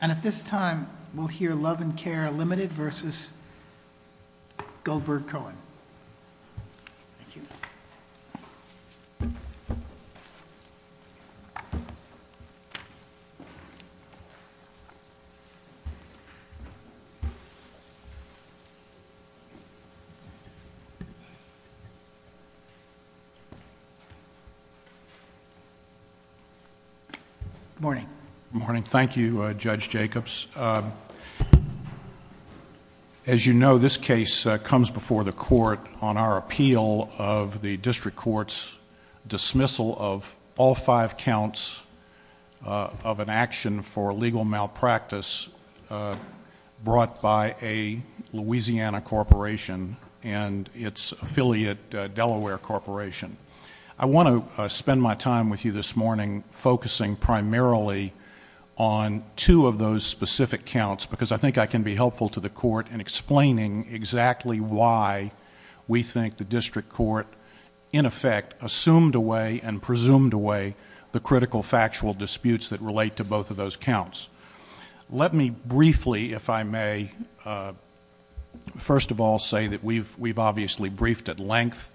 And at this time, we'll hear Love N' Care, Ltd. v. Goldberg-Cohen. Thank you. Good morning. Good morning. Thank you, Judge Jacobs. As you know, this case comes before the court on our appeal of the district court's dismissal of all five counts of an action for legal malpractice brought by a Louisiana corporation and its affiliate, Delaware Corporation. I want to spend my time with you this morning focusing primarily on two of those specific counts because I think I can be helpful to the court in explaining exactly why we think the district court, in effect, assumed away and presumed away the critical factual disputes that relate to both of those counts. Let me briefly, if I may, first of all say that we've obviously briefed at length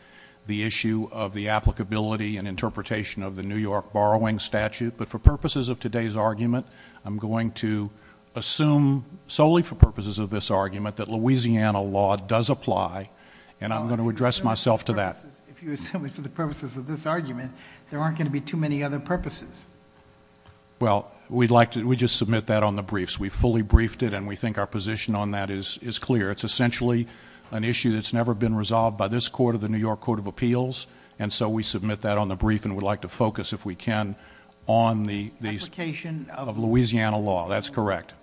the issue of the applicability and interpretation of the New York borrowing statute, but for purposes of today's argument, I'm going to assume solely for purposes of this argument that Louisiana law does apply, and I'm going to address myself to that. If you assume it for the purposes of this argument, there aren't going to be too many other purposes. Well, we'd like to... we just submit that on the briefs. We fully briefed it, and we think our position on that is clear. It's essentially an issue that's never been resolved by this court or the New York Court of Appeals, and so we submit that on the brief, and we'd like to focus, if we can, on the... Application of...... of Louisiana law. That's correct.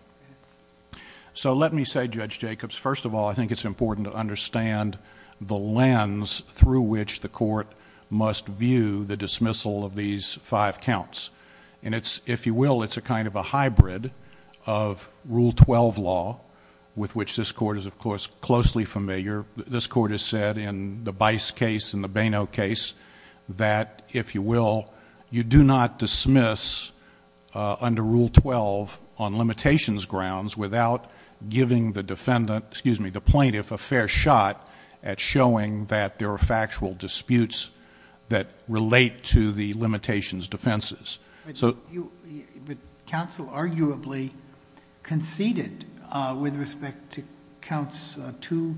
So, let me say, Judge Jacobs, first of all, I think it's important to understand the lens through which the court must view the dismissal of these five counts. And it's, if you will, it's a kind of a hybrid of Rule 12 law, with which this court is, of course, closely familiar. This court has said in the Bice case and the Baino case that, if you will, you do not dismiss under Rule 12 on limitations grounds without giving the defendant... excuse me... the plaintiff a fair shot at showing that there are factual disputes that relate to the limitations defenses. But counsel arguably conceded with respect to counts 2,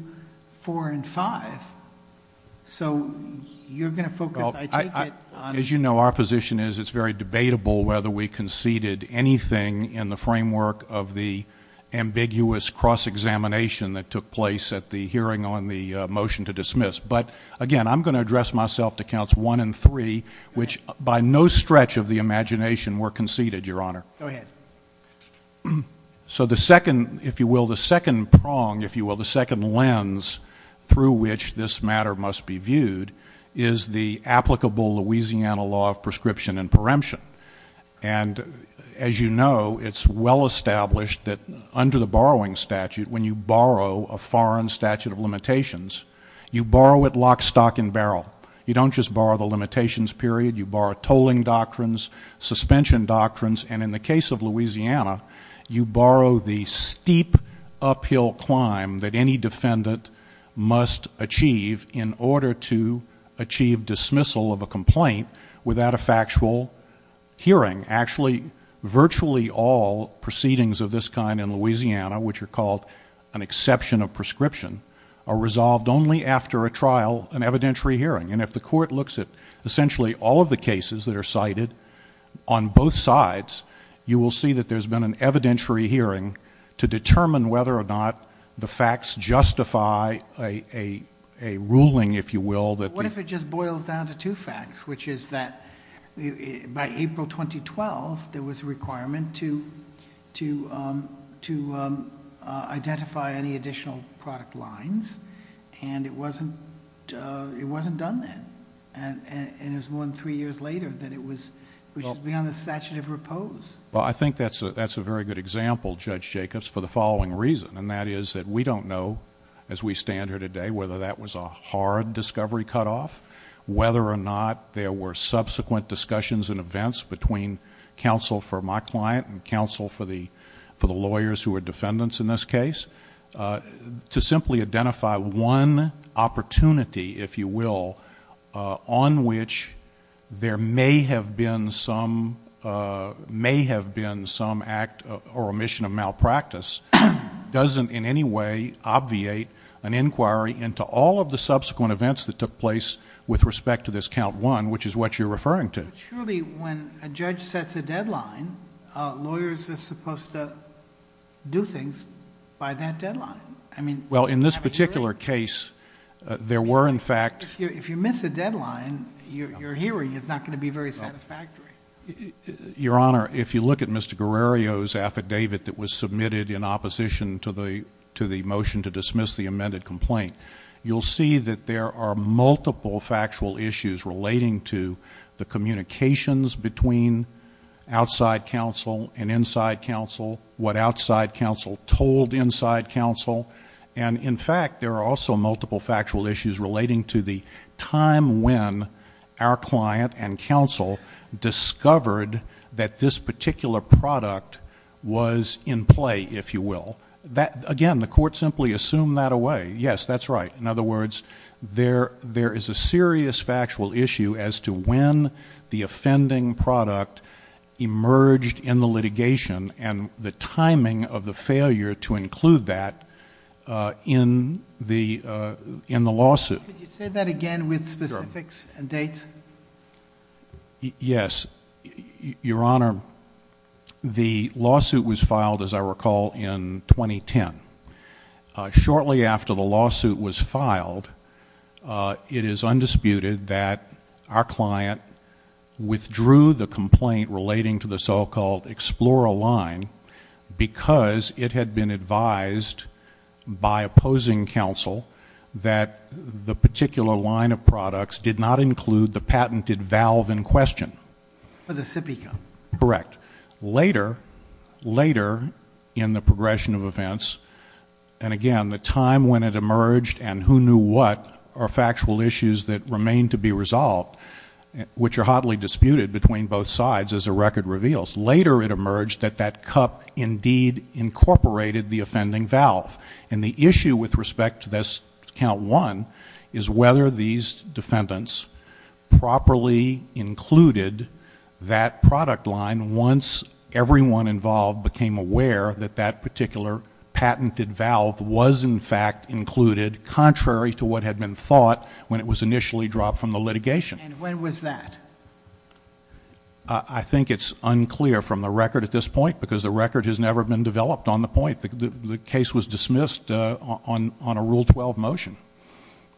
4, and 5. So, you're going to focus, I take it... As you know, our position is it's very debatable whether we conceded anything in the framework of the ambiguous cross-examination that took place at the hearing on the motion to dismiss. But, again, I'm going to address myself to counts 1 and 3, which by no stretch of the imagination were conceded, Your Honor. Go ahead. So, the second, if you will, the second prong, if you will, the second lens through which this matter must be viewed is the applicable Louisiana law of prescription and preemption. And, as you know, it's well established that under the borrowing statute, when you borrow a foreign statute of limitations, you borrow it lock, stock, and barrel. You don't just borrow the limitations period. You borrow tolling doctrines, suspension doctrines, and in the case of Louisiana, you borrow the steep uphill climb that any defendant must achieve in order to achieve dismissal of a complaint without a factual hearing. Actually, virtually all proceedings of this kind in Louisiana, which are called an exception of prescription, are resolved only after a trial, an evidentiary hearing. And if the court looks at essentially all of the cases that are cited on both sides, you will see that there's been an evidentiary hearing to determine whether or not the facts justify a ruling, if you will. What if it just boils down to two facts, which is that by April 2012, there was a requirement to identify any additional product lines, and it wasn't done then. And it was more than three years later that it was beyond the statute of repose. Well, I think that's a very good example, Judge Jacobs, for the following reason. And that is that we don't know, as we stand here today, whether that was a hard discovery cutoff, whether or not there were subsequent discussions and events between counsel for my client and counsel for the lawyers who are defendants in this case, to simply identify one opportunity, if you will, on which there may have been some act or omission of malpractice doesn't in any way obviate an inquiry into all of the subsequent events that took place with respect to this count one, which is what you're referring to. But surely when a judge sets a deadline, lawyers are supposed to do things by that deadline. I mean- Well, in this particular case, there were in fact- If you miss a deadline, your hearing is not going to be very satisfactory. Your Honor, if you look at Mr. Guerrero's affidavit that was submitted in opposition to the motion to dismiss the amended complaint, you'll see that there are multiple factual issues relating to the communications between outside counsel and inside counsel, what outside counsel told inside counsel. And in fact, there are also multiple factual issues relating to the time when our client and counsel discovered that this particular product was in play, if you will. Again, the court simply assumed that away. Yes, that's right. In other words, there is a serious factual issue as to when the offending product emerged in the litigation and the timing of the failure to include that in the lawsuit. Could you say that again with specifics and dates? Yes. Your Honor, the lawsuit was filed, as I recall, in 2010. Shortly after the lawsuit was filed, it is undisputed that our client withdrew the complaint relating to the so-called Explora line because it had been advised by opposing counsel that the particular line of products did not include the patented valve in question. For the SIPECA. Correct. Later, later in the progression of events, and again, the time when it emerged and who knew what are factual issues that remain to be resolved, which are hotly disputed between both sides as the record reveals. Later it emerged that that cup indeed incorporated the offending valve. And the issue with respect to this count one is whether these defendants properly included that product line once everyone involved became aware that that particular patented valve was in fact included contrary to what had been thought when it was initially dropped from the litigation. And when was that? I think it's unclear from the record at this point because the record has never been developed on the point. The case was dismissed on a Rule 12 motion.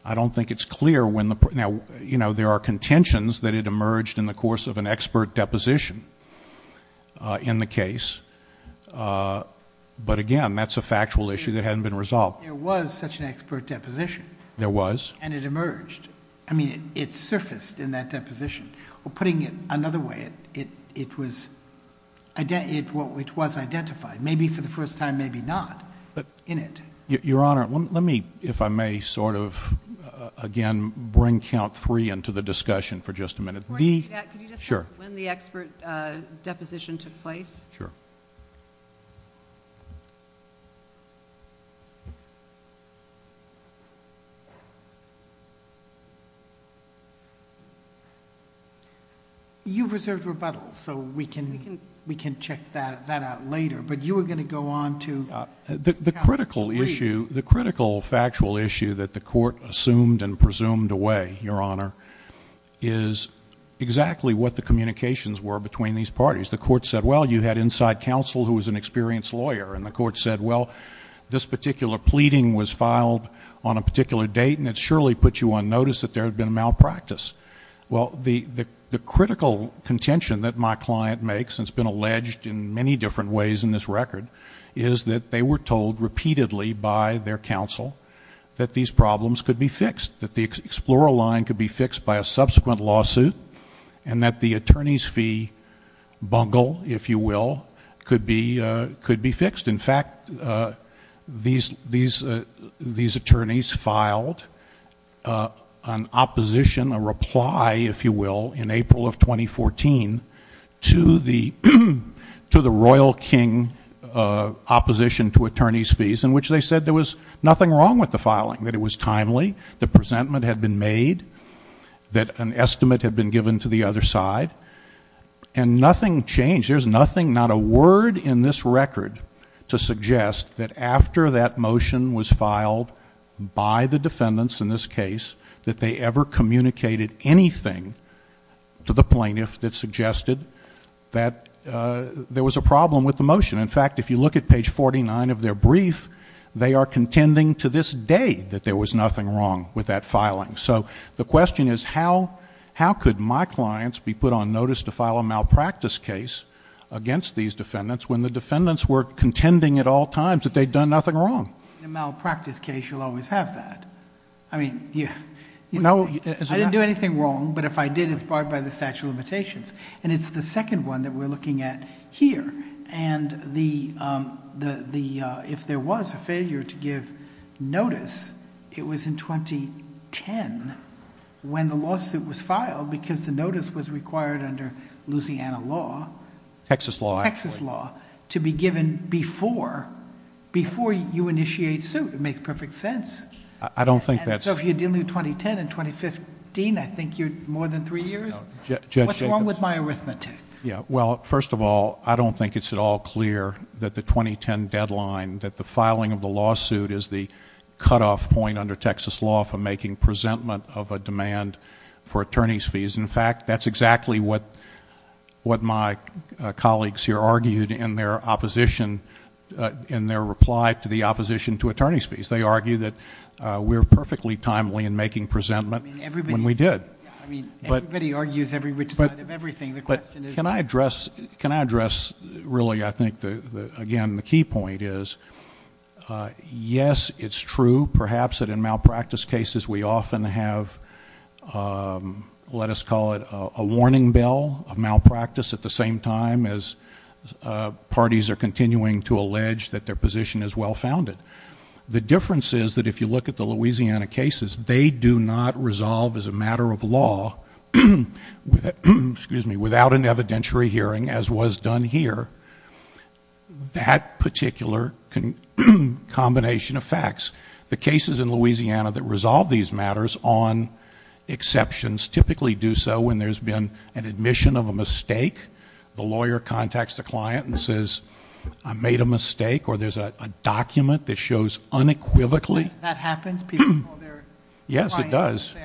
I don't think it's clear when the... now, you know, there are contentions that it emerged in the course of an expert deposition in the case. But again, that's a factual issue that hadn't been resolved. There was such an expert deposition. There was. And it emerged. I mean, it surfaced in that deposition. Or putting it another way, it was identified. Maybe for the first time, maybe not, in it. Your Honor, let me, if I may, sort of again bring count three into the discussion for just a minute. Could you just tell us when the expert deposition took place? Sure. You've reserved rebuttal, so we can check that out later. But you were going to go on to count three. The critical issue, the critical factual issue that the court assumed and presumed away, Your Honor, is exactly what the communications were between these parties. The court said, well, you had inside counsel who was an experienced lawyer. And the court said, well, this particular pleading was filed on a particular date, and it surely put you on notice that there had been a malpractice. Well, the critical contention that my client makes, and it's been alleged in many different ways in this record, is that they were told repeatedly by their counsel that these problems could be fixed, that the Explorer line could be fixed by a subsequent lawsuit, and that the attorney's fee bungle, if you will, could be fixed. In fact, these attorneys filed an opposition, a reply, if you will, in April of 2014 to the Royal King opposition to attorney's fees, in which they said there was nothing wrong with the filing, that it was timely, the presentment had been made, that an estimate had been given to the other side, and nothing changed. There's nothing, not a word in this record to suggest that after that motion was filed by the defendants in this case, that they ever communicated anything to the plaintiff that suggested that there was a problem with the motion. In fact, if you look at page 49 of their brief, they are contending to this day that there was nothing wrong with that filing. The question is how could my clients be put on notice to file a malpractice case against these defendants when the defendants were contending at all times that they'd done nothing wrong? In a malpractice case, you'll always have that. I didn't do anything wrong, but if I did, it's barred by the statute of limitations. It's the second one that we're looking at here. If there was a failure to give notice, it was in 2010 when the lawsuit was filed, because the notice was required under Louisiana law... Texas law, actually. Texas law to be given before you initiate suit. It makes perfect sense. I don't think that's... If you dilute 2010 and 2015, I think you're more than three years. What's wrong with my arithmetic? Well, first of all, I don't think it's at all clear that the 2010 deadline, that the filing of the lawsuit is the cutoff point under Texas law for making presentment of a demand for attorney's fees. In fact, that's exactly what my colleagues here argued in their opposition... in their reply to the opposition to attorney's fees. They argue that we're perfectly timely in making presentment when we did. Everybody argues every which side of everything. The question is... Can I address, really, I think, again, the key point is... Yes, it's true, perhaps, that in malpractice cases, we often have... let us call it a warning bell of malpractice at the same time as parties are continuing to allege that their position is well founded. The difference is that if you look at the Louisiana cases, they do not resolve as a matter of law... excuse me, without an evidentiary hearing, as was done here. That particular combination of facts, the cases in Louisiana that resolve these matters on exceptions, typically do so when there's been an admission of a mistake. The lawyer contacts the client and says, I made a mistake. Or, there's a document that shows unequivocally... That happens? Yes, it does.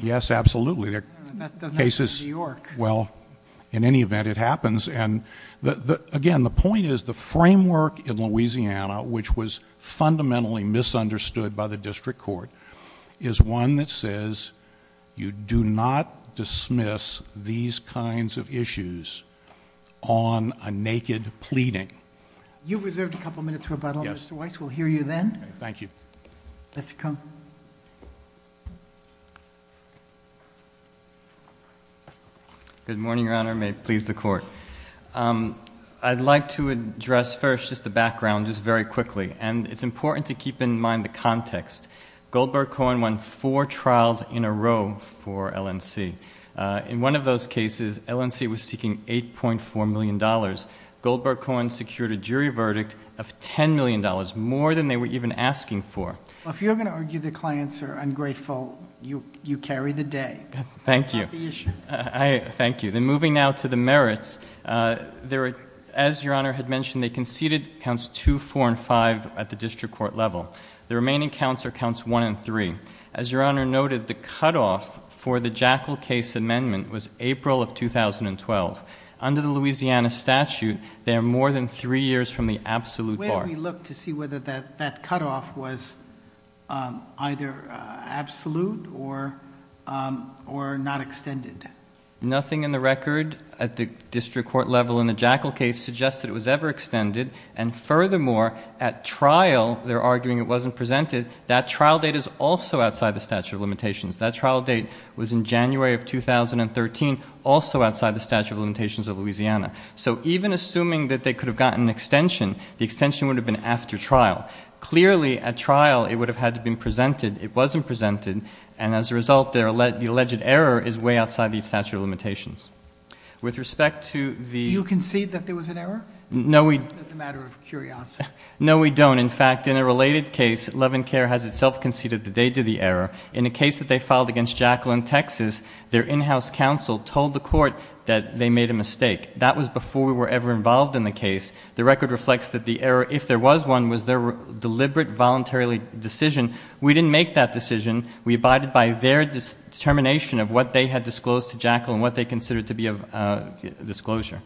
Yes, absolutely. That doesn't happen in New York. Well, in any event, it happens. And, again, the point is the framework in Louisiana, which was fundamentally misunderstood by the district court, is one that says, you do not dismiss these kinds of issues on a naked pleading. You've reserved a couple of minutes for rebuttal, Mr. Weiss. Yes. We'll hear you then. Thank you. Mr. Cohen. Good morning, Your Honor. May it please the Court. I'd like to address first just the background, just very quickly. And, it's important to keep in mind the context. Goldberg-Cohen won four trials in a row for LNC. In one of those cases, LNC was seeking $8.4 million. Goldberg-Cohen secured a jury verdict of $10 million, more than they were even asking for. Well, if you're going to argue the clients are ungrateful, you carry the day. Thank you. Not the issue. Thank you. Then, moving now to the merits. As Your Honor had mentioned, they conceded counts 2, 4, and 5 at the district court level. The remaining counts are counts 1 and 3. As Your Honor noted, the cutoff for the Jackal case amendment was April of 2012. Under the Louisiana statute, they are more than three years from the absolute bar. Where do we look to see whether that cutoff was either absolute or not extended? Nothing in the record at the district court level in the Jackal case suggests that it was ever extended. And, furthermore, at trial, they're arguing it wasn't presented. That trial date is also outside the statute of limitations. That trial date was in January of 2013, also outside the statute of limitations of Louisiana. So, even assuming that they could have gotten an extension, the extension would have been after trial. Clearly, at trial, it would have had to have been presented. It wasn't presented. And, as a result, the alleged error is way outside the statute of limitations. With respect to the- Do you concede that there was an error? No, we- It's a matter of curiosity. No, we don't. In fact, in a related case, Love and Care has itself conceded that they did the error. In the case that they filed against Jackal in Texas, their in-house counsel told the court that they made a mistake. That was before we were ever involved in the case. The record reflects that the error, if there was one, was their deliberate, voluntarily decision. We didn't make that decision. We abided by their determination of what they had disclosed to Jackal and what they considered to be a disclosure.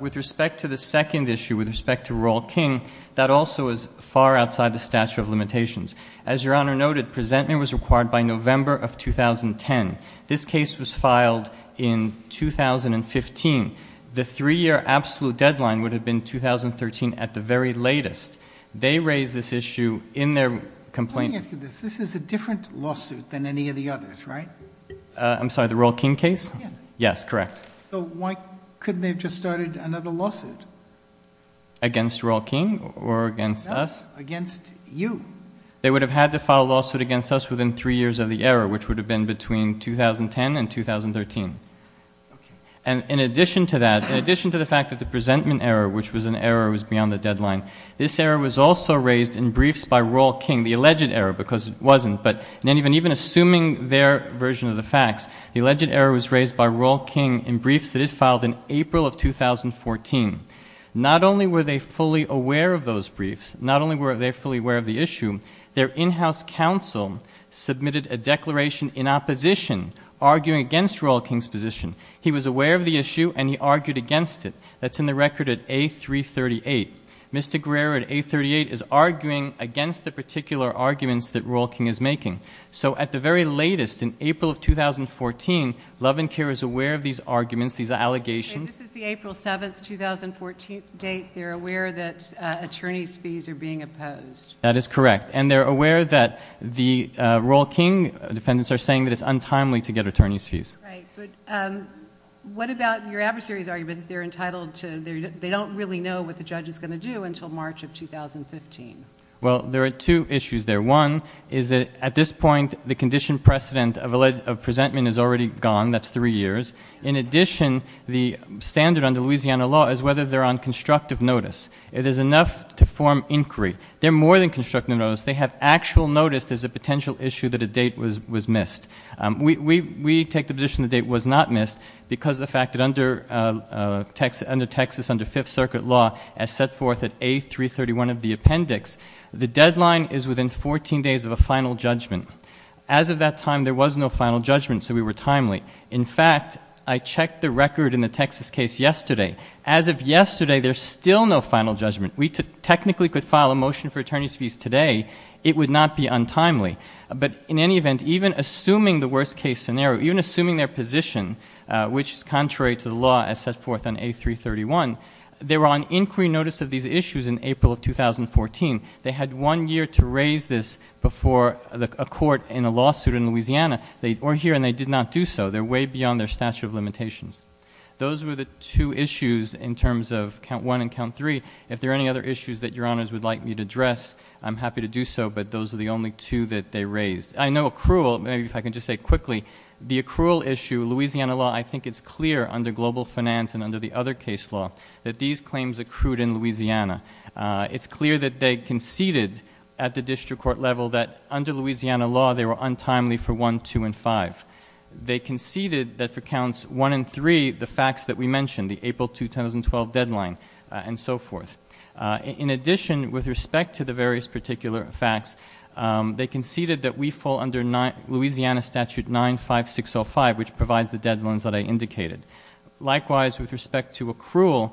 With respect to the second issue, with respect to Royal King, that also is far outside the statute of limitations. As Your Honor noted, presentment was required by November of 2010. This case was filed in 2015. The three-year absolute deadline would have been 2013 at the very latest. They raised this issue in their complaint- Let me ask you this. This is a different lawsuit than any of the others, right? I'm sorry, the Royal King case? Yes. Yes, correct. So why couldn't they have just started another lawsuit? Against Royal King or against us? Against you. They would have had to file a lawsuit against us within three years of the error, which would have been between 2010 and 2013. Okay. And in addition to that, in addition to the fact that the presentment error, which was an error that was beyond the deadline, this error was also raised in briefs by Royal King, the alleged error, because it wasn't. But even assuming their version of the facts, the alleged error was raised by Royal King in briefs that it filed in April of 2014. Not only were they fully aware of those briefs, not only were they fully aware of the issue, their in-house counsel submitted a declaration in opposition, arguing against Royal King's position. He was aware of the issue, and he argued against it. That's in the record at A338. Mr. Guerrero at A338 is arguing against the particular arguments that Royal King is making. So at the very latest, in April of 2014, Love and Care is aware of these arguments, these allegations- Okay. This is the April 7, 2014 date. They're aware that attorney's fees are being opposed. That is correct. And they're aware that the Royal King defendants are saying that it's untimely to get attorney's fees. Right. But what about your adversary's argument that they're entitled to-they don't really know what the judge is going to do until March of 2015? Well, there are two issues there. One is that at this point, the condition precedent of presentment is already gone. That's three years. In addition, the standard under Louisiana law is whether they're on constructive notice. It is enough to form inquiry. They're more than constructive notice. They have actual notice there's a potential issue that a date was missed. We take the position the date was not missed because of the fact that under Texas, under Fifth Circuit law, as set forth at A331 of the appendix, the deadline is within 14 days of a final judgment. As of that time, there was no final judgment, so we were timely. In fact, I checked the record in the Texas case yesterday. As of yesterday, there's still no final judgment. We technically could file a motion for attorney's fees today. It would not be untimely. But in any event, even assuming the worst-case scenario, even assuming their position, which is contrary to the law as set forth on A331, they were on inquiry notice of these issues in April of 2014. They had one year to raise this before a court in a lawsuit in Louisiana. They were here and they did not do so. They're way beyond their statute of limitations. Those were the two issues in terms of count one and count three. If there are any other issues that Your Honors would like me to address, I'm happy to do so, but those are the only two that they raised. I know accrual, maybe if I can just say quickly, the accrual issue, Louisiana law, I think it's clear under global finance and under the other case law that these claims accrued in Louisiana. It's clear that they conceded at the district court level that under Louisiana law they were untimely for one, two, and five. They conceded that for counts one and three, the facts that we mentioned, the April 2012 deadline and so forth. In addition, with respect to the various particular facts, they conceded that we fall under Louisiana statute 95605, which provides the deadlines that I indicated. Likewise, with respect to accrual,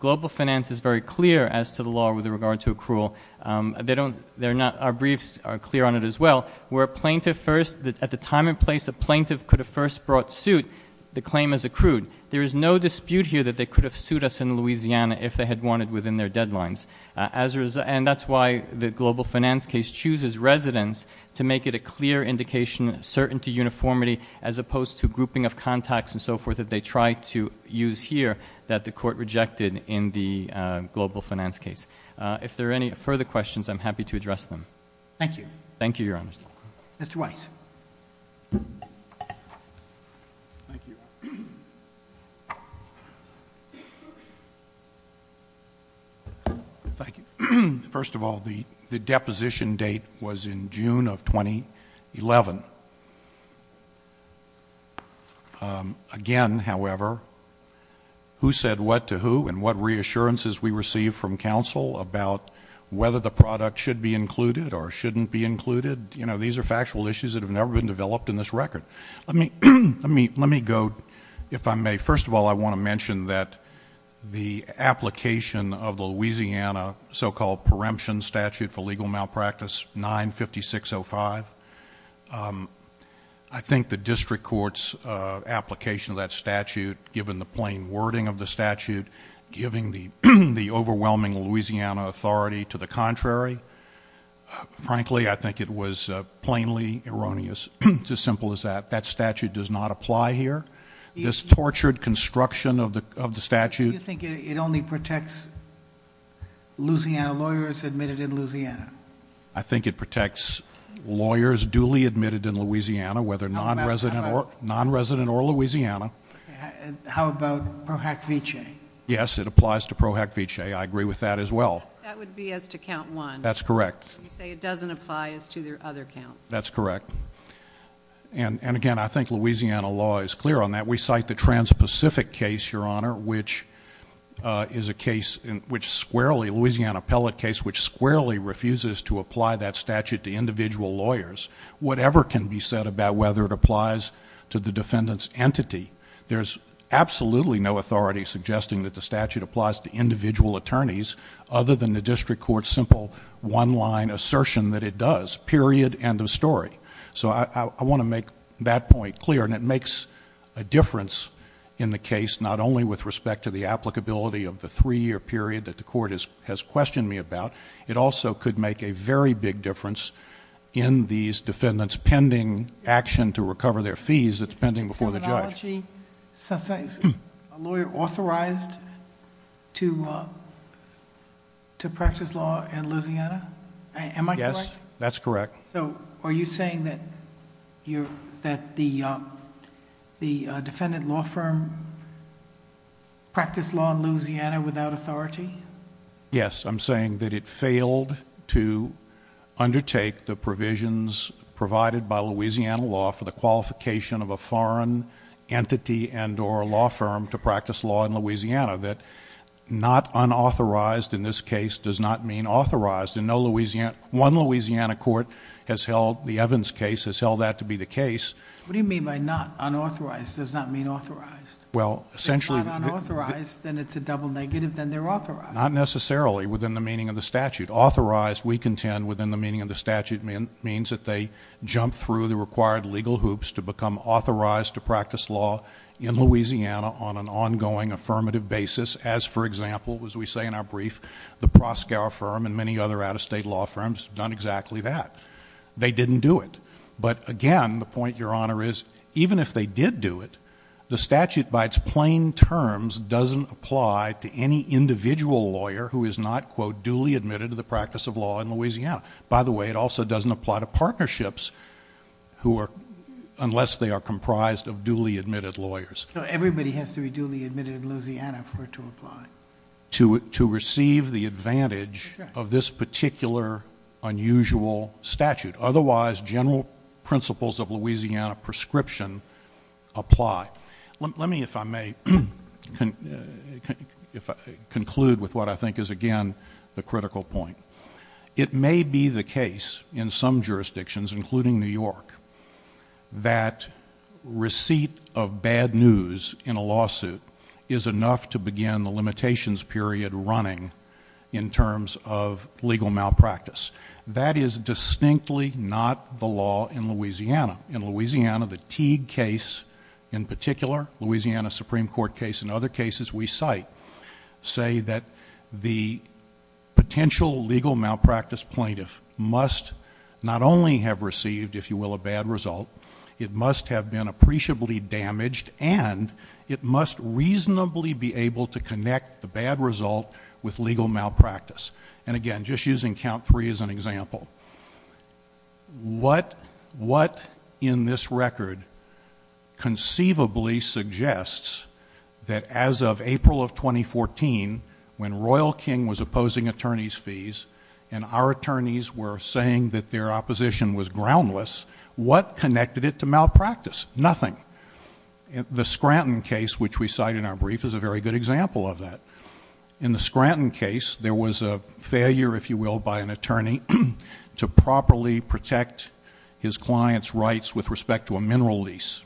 global finance is very clear as to the law with regard to accrual. Our briefs are clear on it as well. Where a plaintiff first, at the time and place a plaintiff could have first brought suit, the claim is accrued. There is no dispute here that they could have sued us in Louisiana if they had won it within their deadlines. And that's why the global finance case chooses residents to make it a clear indication, certain to uniformity, as opposed to grouping of contacts and so forth that they try to use here, that the court rejected in the global finance case. If there are any further questions, I'm happy to address them. Thank you. Thank you, Your Honor. Mr. Weiss. Thank you. Thank you. First of all, the deposition date was in June of 2011. Again, however, who said what to who and what reassurances we received from counsel about whether the product should be included or shouldn't be included, you know, these are factual issues that have never been developed in this record. Let me go, if I may. First of all, I want to mention that the application of the Louisiana so-called preemption statute for legal malpractice, 95605, I think the district court's application of that statute, given the plain wording of the statute, giving the overwhelming Louisiana authority to the contrary, frankly, I think it was plainly erroneous. It's as simple as that. That statute does not apply here. This tortured construction of the statute... Do you think it only protects Louisiana lawyers admitted in Louisiana? I think it protects lawyers duly admitted in Louisiana, whether nonresident or Louisiana. How about pro hack vice? Yes, it applies to pro hack vice. I agree with that as well. That would be as to count one. That's correct. You say it doesn't apply as to their other counts. That's correct. And, again, I think Louisiana law is clear on that. We cite the Trans-Pacific case, Your Honor, which is a case in which squarely, a Louisiana appellate case which squarely refuses to apply that statute to individual lawyers. Whatever can be said about whether it applies to the defendant's entity, there's absolutely no authority suggesting that the statute applies to individual attorneys other than the district court's simple one-line assertion that it does. Period. End of story. So I want to make that point clear. And it makes a difference in the case not only with respect to the applicability of the three-year period that the court has questioned me about. It also could make a very big difference in these defendants' pending action to recover their fees that's pending before the judge. Mr. Judge, is a lawyer authorized to practice law in Louisiana? Am I correct? Yes. That's correct. Are you saying that the defendant law firm practiced law in Louisiana without authority? Yes. I'm saying that it failed to undertake the provisions provided by Louisiana law for the qualification of a foreign entity and or law firm to practice law in Louisiana, that not unauthorized in this case does not mean authorized. One Louisiana court has held the Evans case has held that to be the case. What do you mean by not unauthorized does not mean authorized? Well, essentially... If it's not unauthorized, then it's a double negative, then they're authorized. Not necessarily within the meaning of the statute. Authorized, we contend, within the meaning of the statute, means that they jumped through the required legal hoops to become authorized to practice law in Louisiana on an ongoing affirmative basis as, for example, as we say in our brief, the Proskauer firm and many other out-of-state law firms have done exactly that. They didn't do it. But, again, the point, Your Honor, is even if they did do it, the statute by its plain terms doesn't apply to any individual lawyer who is not, quote, duly admitted to the practice of law in Louisiana. By the way, it also doesn't apply to partnerships who are... unless they are comprised of duly admitted lawyers. So everybody has to be duly admitted in Louisiana for it to apply? To receive the advantage of this particular unusual statute. Otherwise, general principles of Louisiana prescription apply. Let me, if I may, conclude with what I think is, again, the critical point. It may be the case in some jurisdictions, including New York, that receipt of bad news in a lawsuit is enough to begin the limitations period running in terms of legal malpractice. That is distinctly not the law in Louisiana. The Teague case in particular, Louisiana Supreme Court case, and other cases we cite, say that the potential legal malpractice plaintiff must not only have received, if you will, a bad result, it must have been appreciably damaged, and it must reasonably be able to connect the bad result with legal malpractice. And, again, just using count three as an example. What in this record conceivably suggests that as of April of 2014, when Royal King was opposing attorneys' fees and our attorneys were saying that their opposition was groundless, what connected it to malpractice? Nothing. The Scranton case, which we cite in our brief, is a very good example of that. In the Scranton case, there was a failure, if you will, by an attorney to properly protect his client's rights with respect to a mineral lease.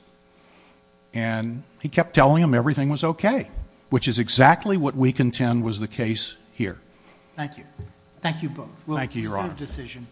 And he kept telling them everything was okay, which is exactly what we contend was the case here. Thank you. Thank you both. Thank you, Your Honor. We'll consider a decision.